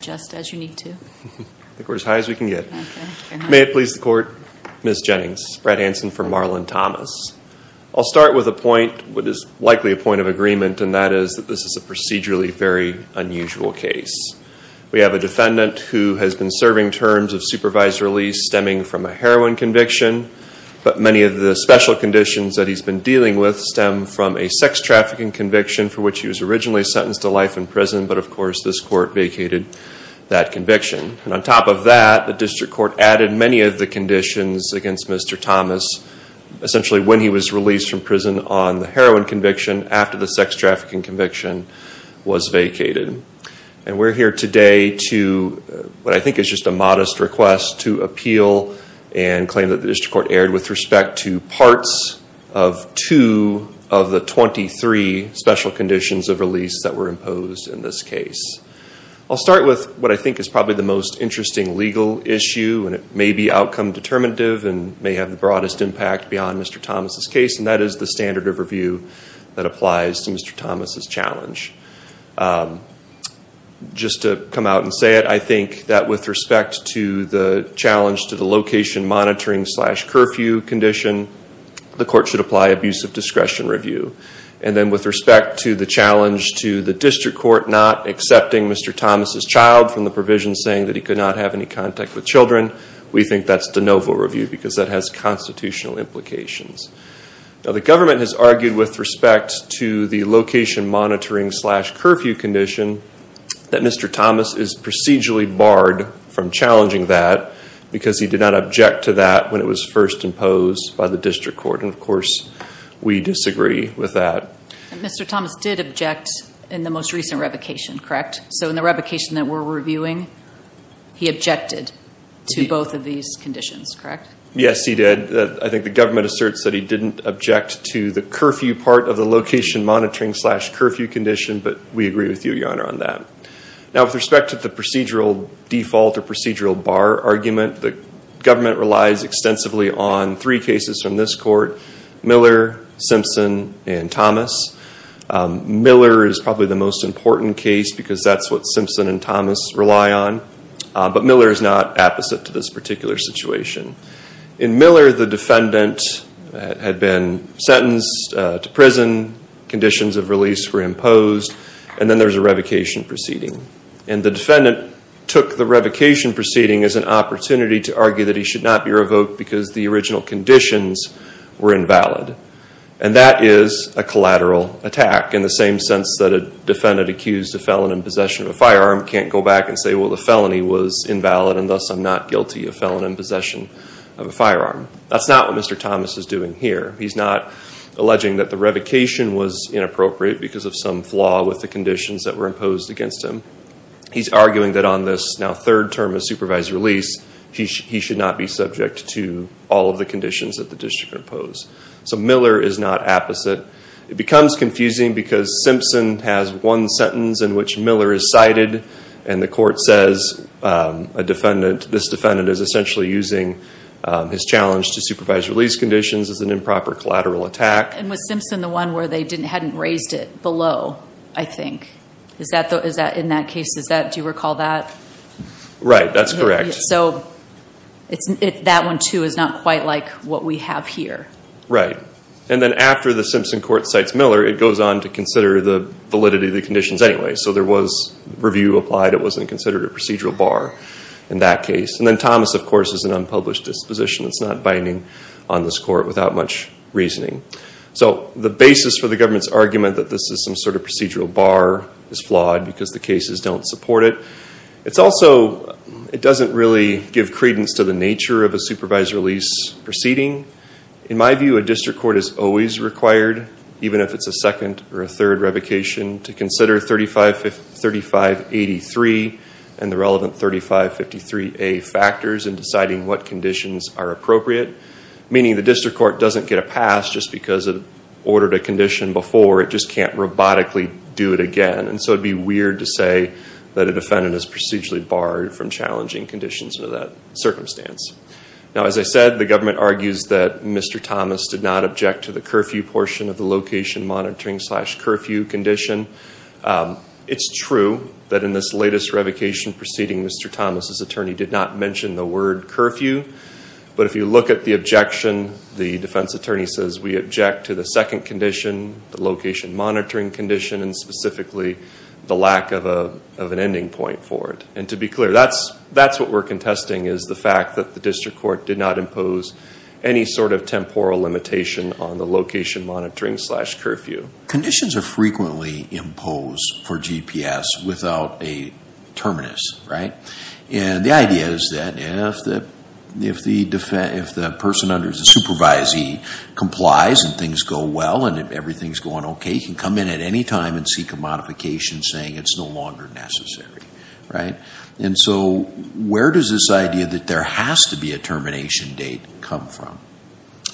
May it please the Court, Ms. Jennings, Brad Hansen for Marlin Thomas. I'll start with a point, what is likely a point of agreement, and that is that this is a procedurally very unusual case. We have a defendant who has been serving terms of supervised release stemming from a heroin conviction, but many of the special conditions that he's been dealing with stem from a sex trafficking conviction for which he was originally sentenced to life in prison, but of course this Court vacated that conviction. And on top of that, the District Court added many of the conditions against Mr. Thomas, essentially when he was released from prison on the heroin conviction after the sex trafficking conviction was vacated. And we're here today to, what I think is just a modest request, to appeal and claim that the District Court erred with respect to parts of two of the 23 special conditions of release that were imposed in this case. I'll start with what I think is probably the most interesting legal issue, and it may be outcome determinative and may have the broadest impact beyond Mr. Thomas' case, and that is the standard of review that applies to Mr. Thomas' challenge. Just to come out and say it, I think that with respect to the challenge to the location monitoring slash curfew condition, the Court should apply abuse of discretion review. And to the District Court not accepting Mr. Thomas' child from the provision saying that he could not have any contact with children, we think that's de novo review because that has constitutional implications. Now the government has argued with respect to the location monitoring slash curfew condition that Mr. Thomas is procedurally barred from challenging that because he did not object to that when it was first imposed by the District Court, and of course we disagree with that. Mr. Thomas did object in the most recent revocation, correct? So in the revocation that we're reviewing, he objected to both of these conditions, correct? Yes, he did. I think the government asserts that he didn't object to the curfew part of the location monitoring slash curfew condition, but we agree with you, Your Honor, on that. Now with respect to the procedural default or procedural bar argument, the government relies extensively on three cases from this Court, Miller, Simpson, and Thomas. Miller is probably the most important case because that's what Simpson and Thomas rely on, but Miller is not apposite to this particular situation. In Miller, the defendant had been sentenced to prison, conditions of release were imposed, and then there's a revocation proceeding. And the defendant took the revocation proceeding as an opportunity to argue that he should not be revoked because the original conditions were invalid. And that is a collateral attack in the same sense that a defendant accused a felon in possession of a firearm can't go back and say, well, the felony was invalid and thus I'm not guilty of felon in possession of a firearm. That's not what Mr. Thomas is doing here. He's not alleging that the revocation was inappropriate because of some flaw with the conditions that were imposed against him. He's arguing that on this now term of supervised release, he should not be subject to all of the conditions that the district imposed. So Miller is not apposite. It becomes confusing because Simpson has one sentence in which Miller is cited and the Court says a defendant, this defendant is essentially using his challenge to supervised release conditions as an improper collateral attack. And was Simpson the one where they hadn't raised it below, I think? In that case, do you recall that? Right, that's correct. So that one too is not quite like what we have here. Right. And then after the Simpson court cites Miller, it goes on to consider the validity of the conditions anyway. So there was review applied. It wasn't considered a procedural bar in that case. And then Thomas, of course, is an unpublished disposition. It's not binding on this court without much reasoning. So the basis for the government's argument that this is some sort of procedural bar is flawed because the cases don't support it. It's also, it doesn't really give credence to the nature of a supervised release proceeding. In my view, a district court is always required, even if it's a second or a third revocation, to consider 3583 and the relevant 3553A factors in deciding what conditions are appropriate. Meaning the district court doesn't get a pass just because it ordered a condition before. It just can't robotically do it again. And so it would be weird to say that a defendant is procedurally barred from challenging conditions under that circumstance. Now as I said, the government argues that Mr. Thomas did not object to the curfew portion of the location monitoring slash curfew condition. It's true that in this latest revocation proceeding, Mr. Thomas' attorney did not mention the word curfew. But if you look at the objection, the defense attorney says we object to the second condition, the location monitoring condition, and specifically the lack of an ending point for it. And to be clear, that's what we're contesting is the fact that the district court did not impose any sort of temporal limitation on the location monitoring slash curfew. Conditions are frequently imposed for GPS without a terminus, right? And the idea is that if the person under the supervisee complies and things go well and everything's going okay, he can come in at any time and seek a modification saying it's no longer necessary. And so where does this idea that there has to be a termination date come from?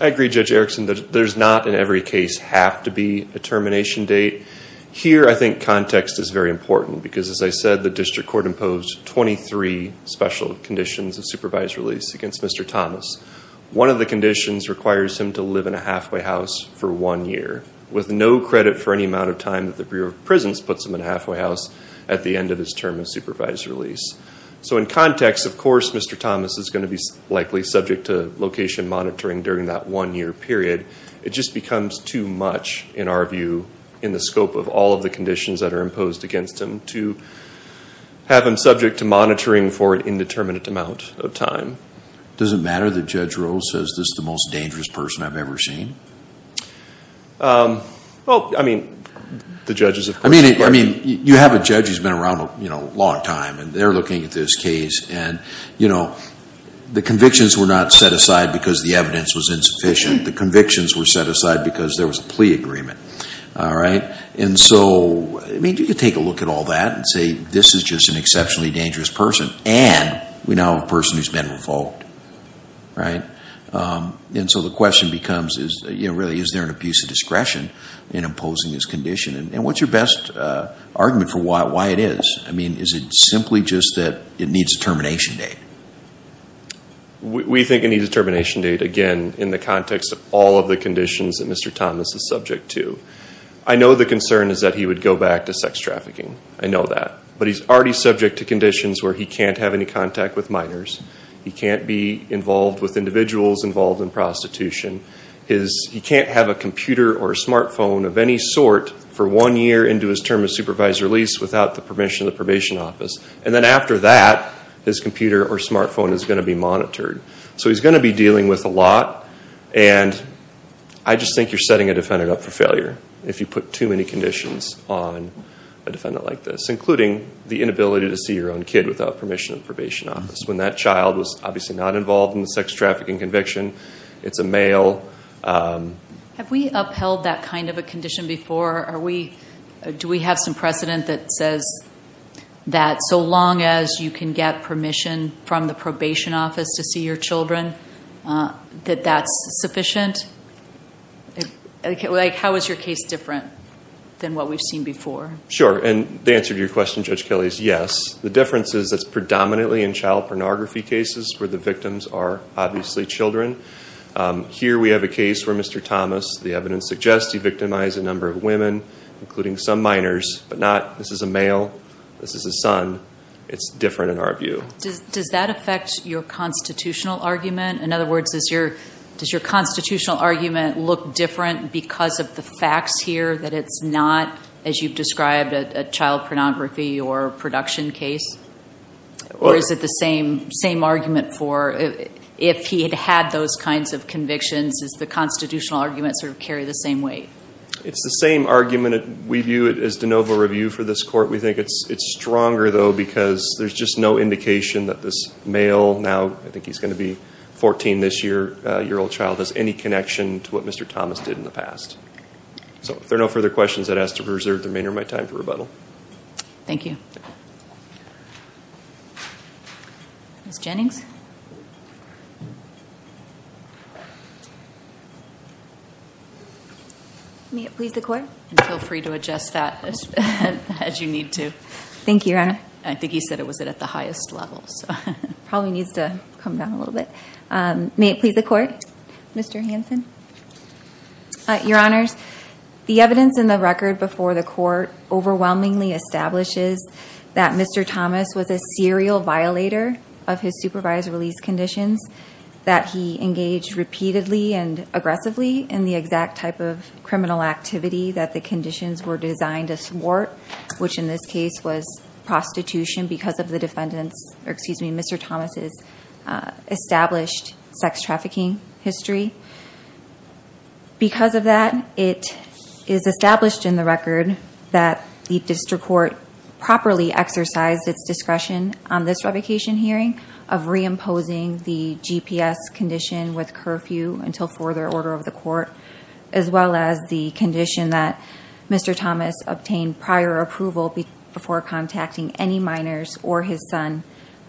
I agree, Judge Erickson, that there's not in every case have to be a termination date. Here I think context is very important because as I said, the district court imposed 23 special conditions of supervised release against Mr. Thomas. One of the conditions requires him to live in a halfway house for one year with no credit for any amount of time that the Bureau of Prisons puts him in a halfway house at the end of his term of supervised release. So in context, of course, Mr. Thomas is going to be likely subject to location monitoring during that one-year period. It just becomes too much, in our view, in the scope of all of the conditions that are imposed against him to have him subject to monitoring for an indeterminate amount of time. Does it matter that Judge Rose says this is the most dangerous person I've ever seen? Well, I mean, the judges of course. You have a judge who's been around a long time and they're looking at this case and the convictions were not set aside because the evidence was insufficient. The convictions were set aside because there was a plea agreement. And so, I mean, you could take a look at all that and say this is just an exceptionally dangerous person and we now have a person who's been revoked, right? And so the question becomes, you know, really, is there an abuse of discretion in imposing this condition? And what's your best argument for why it is? I mean, is it simply just that it needs a termination date? We think it needs a termination date, again, in the context of all of the conditions that Mr. Thomas is subject to. I know the concern is that he would go back to sex trafficking. I know that. But he's already subject to conditions where he can't have any contact with minors. He can't be involved with individuals involved in prostitution. He can't have a computer or a smartphone of any sort for one year into his term of supervised release without the permission of the probation office. And then after that, his computer or smartphone is going to be monitored. So he's going to be dealing with a lot and I just think you're setting a defendant up for failure if you put too many conditions on a defendant like this, including the inability to see your own kid without permission of the probation office. When that child was obviously not involved in the sex trafficking conviction, it's a male. Have we upheld that kind of a condition before? Do we have some precedent that says that so long as you can get permission from the probation office to see your children, that that's sufficient? How is your case different than what we've seen before? Sure. And the answer to your question, Judge Kelly, is yes. The difference is that it's predominantly in child pornography cases where the victims are obviously children. Here we have a case where Mr. Thomas, the evidence suggests he victimized a number of women, including some minors, but not this is a male, this is his son. It's different in our view. Does that affect your constitutional argument? In other words, does your constitutional argument look different because of the facts here, that it's not, as you've described, a child pornography or production case? Or is it the same argument for if he had had those kinds of convictions, does the constitutional argument sort of carry the same weight? It's the same argument. We view it as de novo review for this court. We think it's stronger, though, because there's just no indication that this male, now I think he's going to be 14 this year, a year-old child, has any connection to what Mr. Thomas did in the past. So if there are no further questions, I'd ask to reserve the remainder of my time for rebuttal. Thank you. Ms. Jennings? May it please the Court? Feel free to adjust that as you need to. Thank you, Your Honor. I think he said it was at the highest level. It probably needs to come down a little bit. May it please the Court? Mr. Hanson? Your Honors, the evidence in the record before the Court overwhelmingly establishes that Mr. Thomas was a serial violator of his supervised release conditions, that he engaged repeatedly and aggressively in the exact type of criminal activity that the conditions were designed to thwart, which in this case was prostitution because of Mr. Thomas' established sex-trafficking history. Because of that, it is established in the record that the District Court properly exercised its discretion on this revocation hearing of reimposing the GPS condition with curfew until further order of the Court, as well as the condition that Mr. Thomas obtained prior approval before contacting any minors or his son,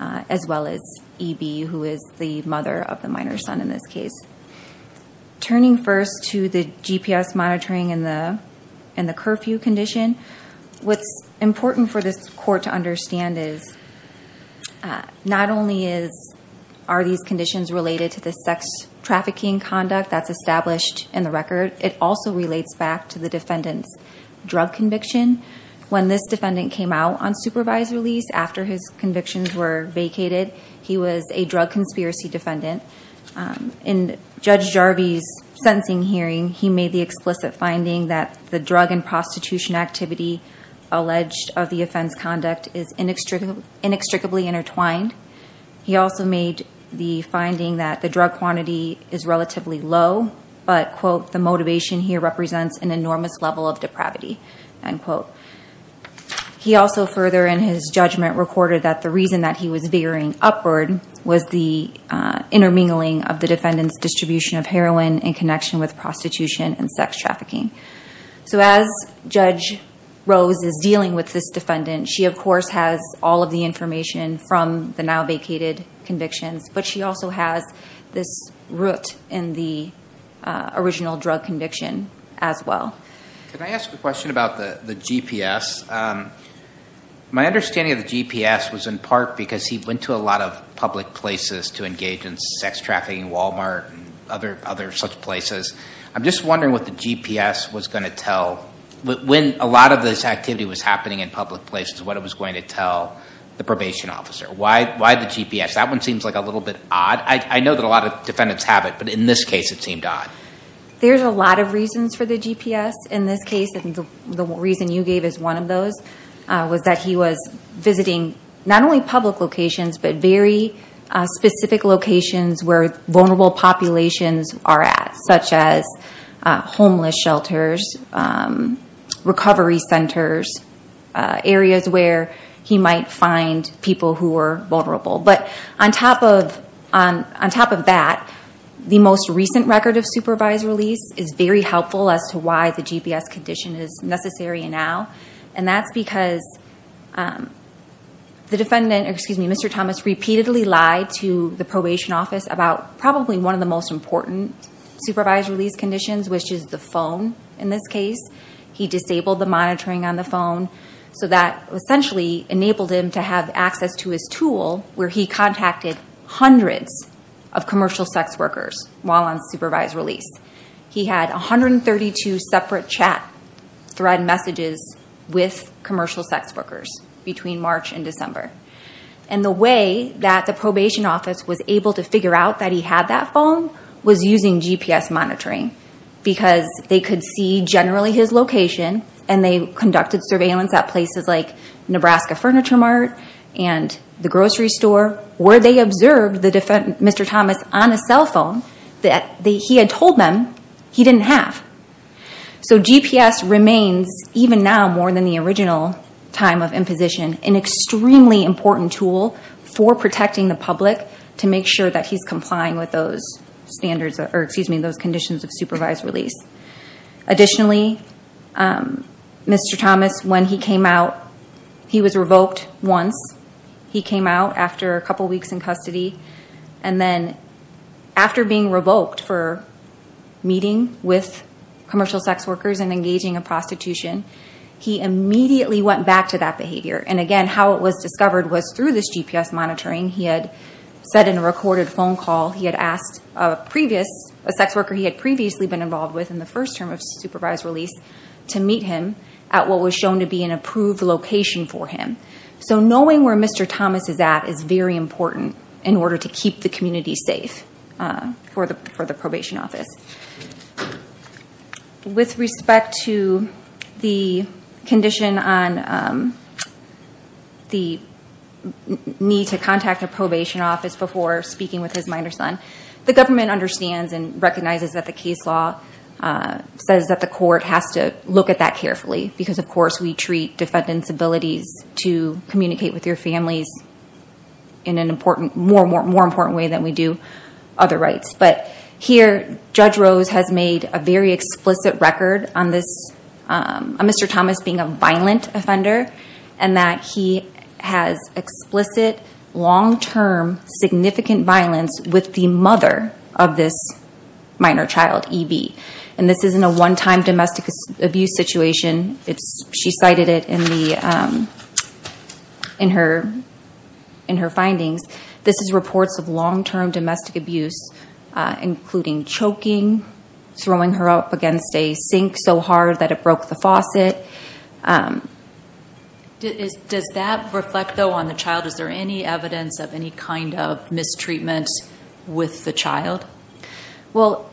as well as EB, who is the mother of the minor's son in this case. Turning first to the GPS monitoring and the curfew condition, what's important for this Court to understand is not only are these conditions related to the sex-trafficking conduct that's established in the record, it also relates back to the defendant's drug conviction. When this defendant came out on supervised release after his convictions were vacated, he was a drug conspiracy defendant. In Judge Jarvie's sentencing hearing, he made the explicit finding that the drug and prostitution activity alleged of the offense conduct is inextricably intertwined. He also made the finding that the drug quantity is relatively low, but, quote, the motivation here represents an enormous level of depravity, end quote. He also further in his judgment recorded that the reason that he was veering upward was the intermingling of the defendant's distribution of heroin in connection with prostitution and sex trafficking. So as Judge Rose is dealing with this defendant, she of course has all of the information from the now vacated convictions, but she also has this root in the original drug conviction as well. Can I ask a question about the GPS? My understanding of the GPS was in part because he went to a lot of public places to engage in sex trafficking, Wal-Mart, and other such places. I'm just wondering what the GPS was going to tell, when a lot of this activity was happening in public places, what it was going to tell the probation officer. Why the GPS? That one seems like a little bit odd. I know that a lot of defendants have it, but in this case it seemed odd. There's a lot of reasons for the GPS in this case. The reason you gave is one of those was that he was visiting not only public locations, but very specific locations where vulnerable populations are at, such as homeless shelters, recovery centers, areas where he might find people who are vulnerable. But on top of that, the most recent record of supervised release is very helpful as to why the GPS condition is necessary now. And that's because the defendant, Mr. Thomas, repeatedly lied to the probation office about probably one of the most important supervised release conditions, which is the phone in this case. He disabled the monitoring on the phone, so that essentially enabled him to have access to his tool, where he contacted hundreds of commercial sex workers while on supervised release. He had 132 separate chat thread messages with commercial sex workers between March and December. And the way that the probation office was able to figure out that he had that phone was using GPS monitoring. Because they could see generally his location, and they conducted surveillance at places like Nebraska Furniture Mart and the grocery store, where they observed Mr. Thomas on a cell phone that he had told them he didn't have. So GPS remains, even now, more than the original time of imposition, an extremely important tool for protecting the public to make sure that he's complying with those conditions of supervised release. Additionally, Mr. Thomas, when he came out, he was revoked once. He came out after a couple weeks in custody, and then after being revoked for meeting with commercial sex workers and engaging in prostitution, he immediately went back to that behavior. And again, how it was discovered was through this GPS monitoring. He had said in a recorded phone call, he had asked a sex worker he had previously been involved with in the first term of supervised release to meet him at what was shown to be an approved location for him. So knowing where Mr. Thomas is at is very important in order to keep the community safe for the probation office. With respect to the condition on the need to contact a probation office before speaking with his minor son, the government understands and recognizes that the case law says that the court has to look at that carefully. Because of course, we treat defendant's abilities to communicate with your families in a more important way than we do other rights. But here, Judge Rose has made a very explicit record on Mr. Thomas being a violent offender and that he has explicit, long-term, significant violence with the mother of this minor child, EB. And this isn't a one-time domestic abuse situation. She cited it in her findings. This is reports of long-term domestic abuse, including choking, throwing her up against a sink so hard that it broke the faucet. Does that reflect, though, on the child? Is there any evidence of any kind of mistreatment with the child? Well,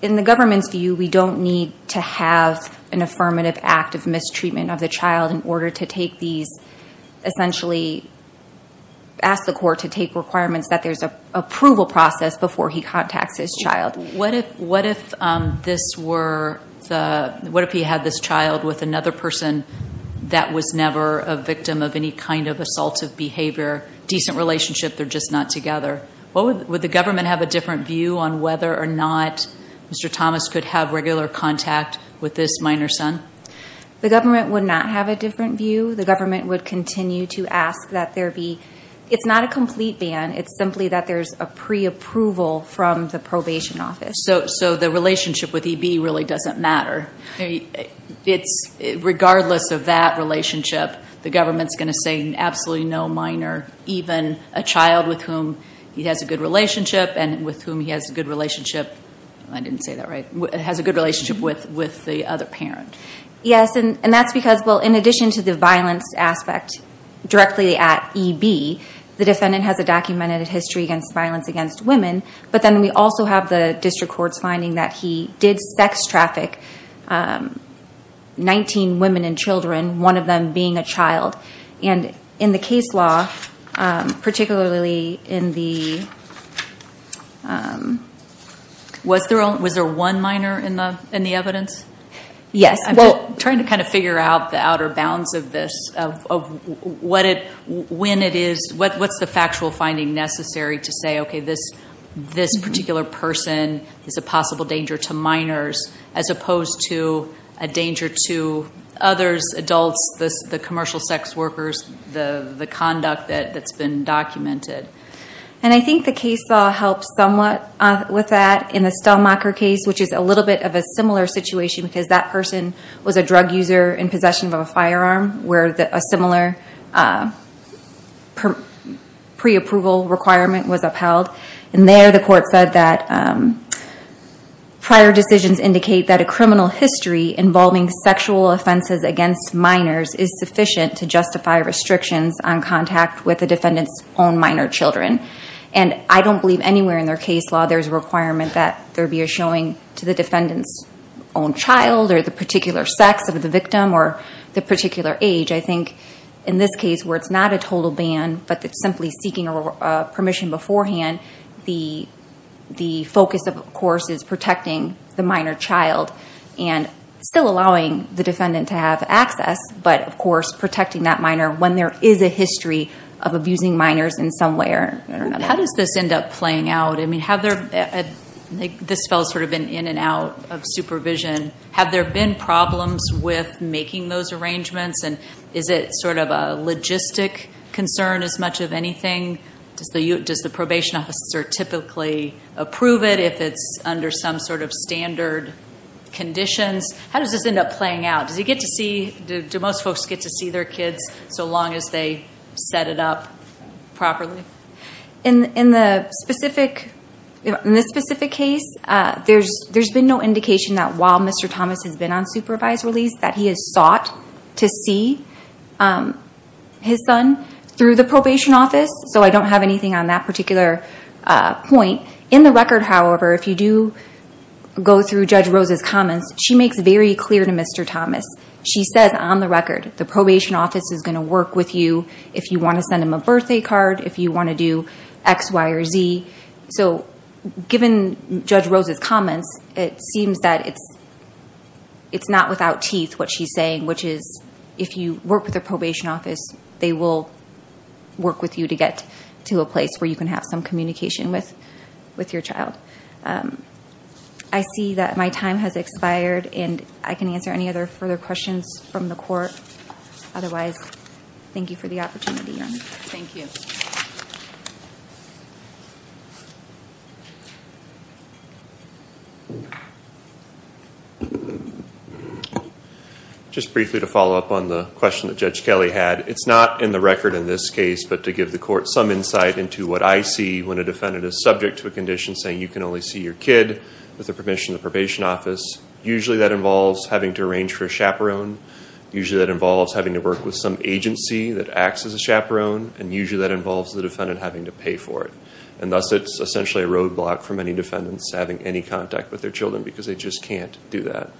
in the government's view, we don't need to have an affirmative act of mistreatment of the child in order to take these, essentially ask the court to take requirements that there's an approval process before he contacts his child. What if this were, what if he had this child with another person that was never a victim of any kind of assaultive behavior, decent relationship, they're just not together? Would the government have a different view on whether or not Mr. Thomas could have regular contact with this minor son? The government would not have a different view. The government would continue to ask that there be, it's not a complete ban, it's simply that there's a pre-approval from the probation office. So the relationship with EB really doesn't matter. Regardless of that relationship, the government's going to say absolutely no minor, even a child with whom he has a good relationship and with whom he has a good relationship, I didn't say that right, has a good relationship with the other parent. Yes, and that's because, well, in addition to the violence aspect directly at EB, the defendant has a documented history against violence against women, but then we also have the district court's finding that he did sex traffic 19 women and children, one of them being a child. And in the case law, particularly in the... Was there one minor in the evidence? Yes. I'm trying to kind of figure out the outer bounds of this, of what it, when it is, what's the factual finding necessary to say, okay, this particular person is a possible danger to minors as opposed to a danger to others, adults, the commercial sex workers, the conduct that's been documented. And I think the case law helps somewhat with that in the Stelmacher case, which is a little bit of a similar situation because that person was a drug user in possession of a firearm where a similar pre-approval requirement was upheld. And there the court said that for prior decisions indicate that a criminal history involving sexual offenses against minors is sufficient to justify restrictions on contact with the defendant's own minor children. And I don't believe anywhere in their case law, there's a requirement that there be a showing to the defendant's own child or the particular sex of the victim or the particular age. I think in this case where it's not a total ban, but it's simply seeking permission beforehand, the focus of course is protecting the minor child and still allowing the defendant to have access, but of course protecting that minor when there is a history of abusing minors in some way or another. How does this end up playing out? I mean, have there, this fell sort of in and out of supervision. Have there been problems with making those arrangements and is it sort of a logistic concern as much of anything? Does the probation officer typically approve it if it's under some sort of standard conditions? How does this end up playing out? Do you get to see, do most folks get to see their kids so long as they set it up properly? In the specific, in this specific case, there's been no indication that while Mr. Thomas has been on supervised release that he has sought to see his son through the probation office. So I don't have anything on that particular point. In the record, however, if you do go through Judge Rose's comments, she makes very clear to Mr. Thomas. She says on the record, the probation office is going to work with you if you want to send him a birthday card, if you want to do X, Y, or Z. So given Judge Rose's comments, it seems that it's not without teeth what she's saying, which is if you work with the probation office, they will work with you to get to a place where you can have some communication with your child. I see that my time has expired and I can answer any other further questions from the court. Otherwise, thank you for the opportunity, Your Honor. Thank you. Just briefly to follow up on the question that Judge Kelly had, it's not in the record in this case, but to give the court some insight into what I see when a defendant is subject to a condition saying you can only see your kid with the permission of the probation office. Usually that involves having to arrange for a chaperone. Usually that involves having to work with some agency that acts as a chaperone, and usually that involves the defendant having to pay for it. And thus, it's essentially a roadblock for many defendants having any contact with their children because they just can't do that.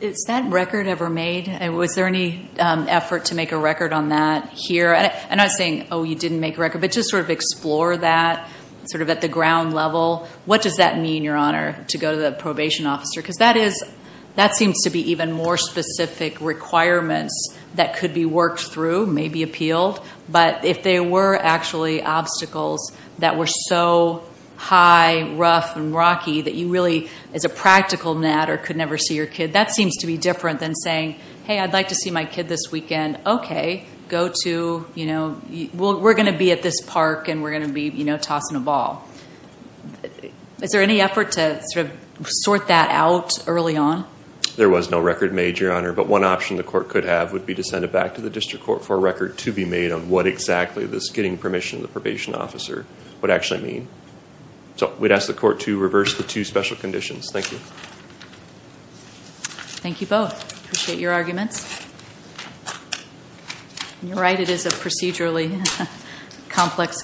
Is that record ever made? Was there any effort to make a record on that here? I'm not saying, oh, you didn't make a record, but just sort of explore that sort of at the ground level. What does that mean, Your Honor, to go to the probation officer? Because that seems to be even more specific requirements that could be worked through, maybe appealed. But if there were actually obstacles that were so high, rough, and rocky that you really, as a practical matter, could never see your kid, that seems to be different than saying, hey, I'd like to see my kid this weekend. Okay, go to, you know, we're going to be at this park and we're going to be, you know, tossing a ball. Is there any effort to sort that out early on? There was no record made, Your Honor, but one option the court could have would be to send it back to the district court for a record to be made on what exactly this getting permission from the probation officer would actually mean. So we'd ask the court to reverse the two special conditions. Thank you. Thank you both. Appreciate your arguments. And you're right, it is a procedurally complex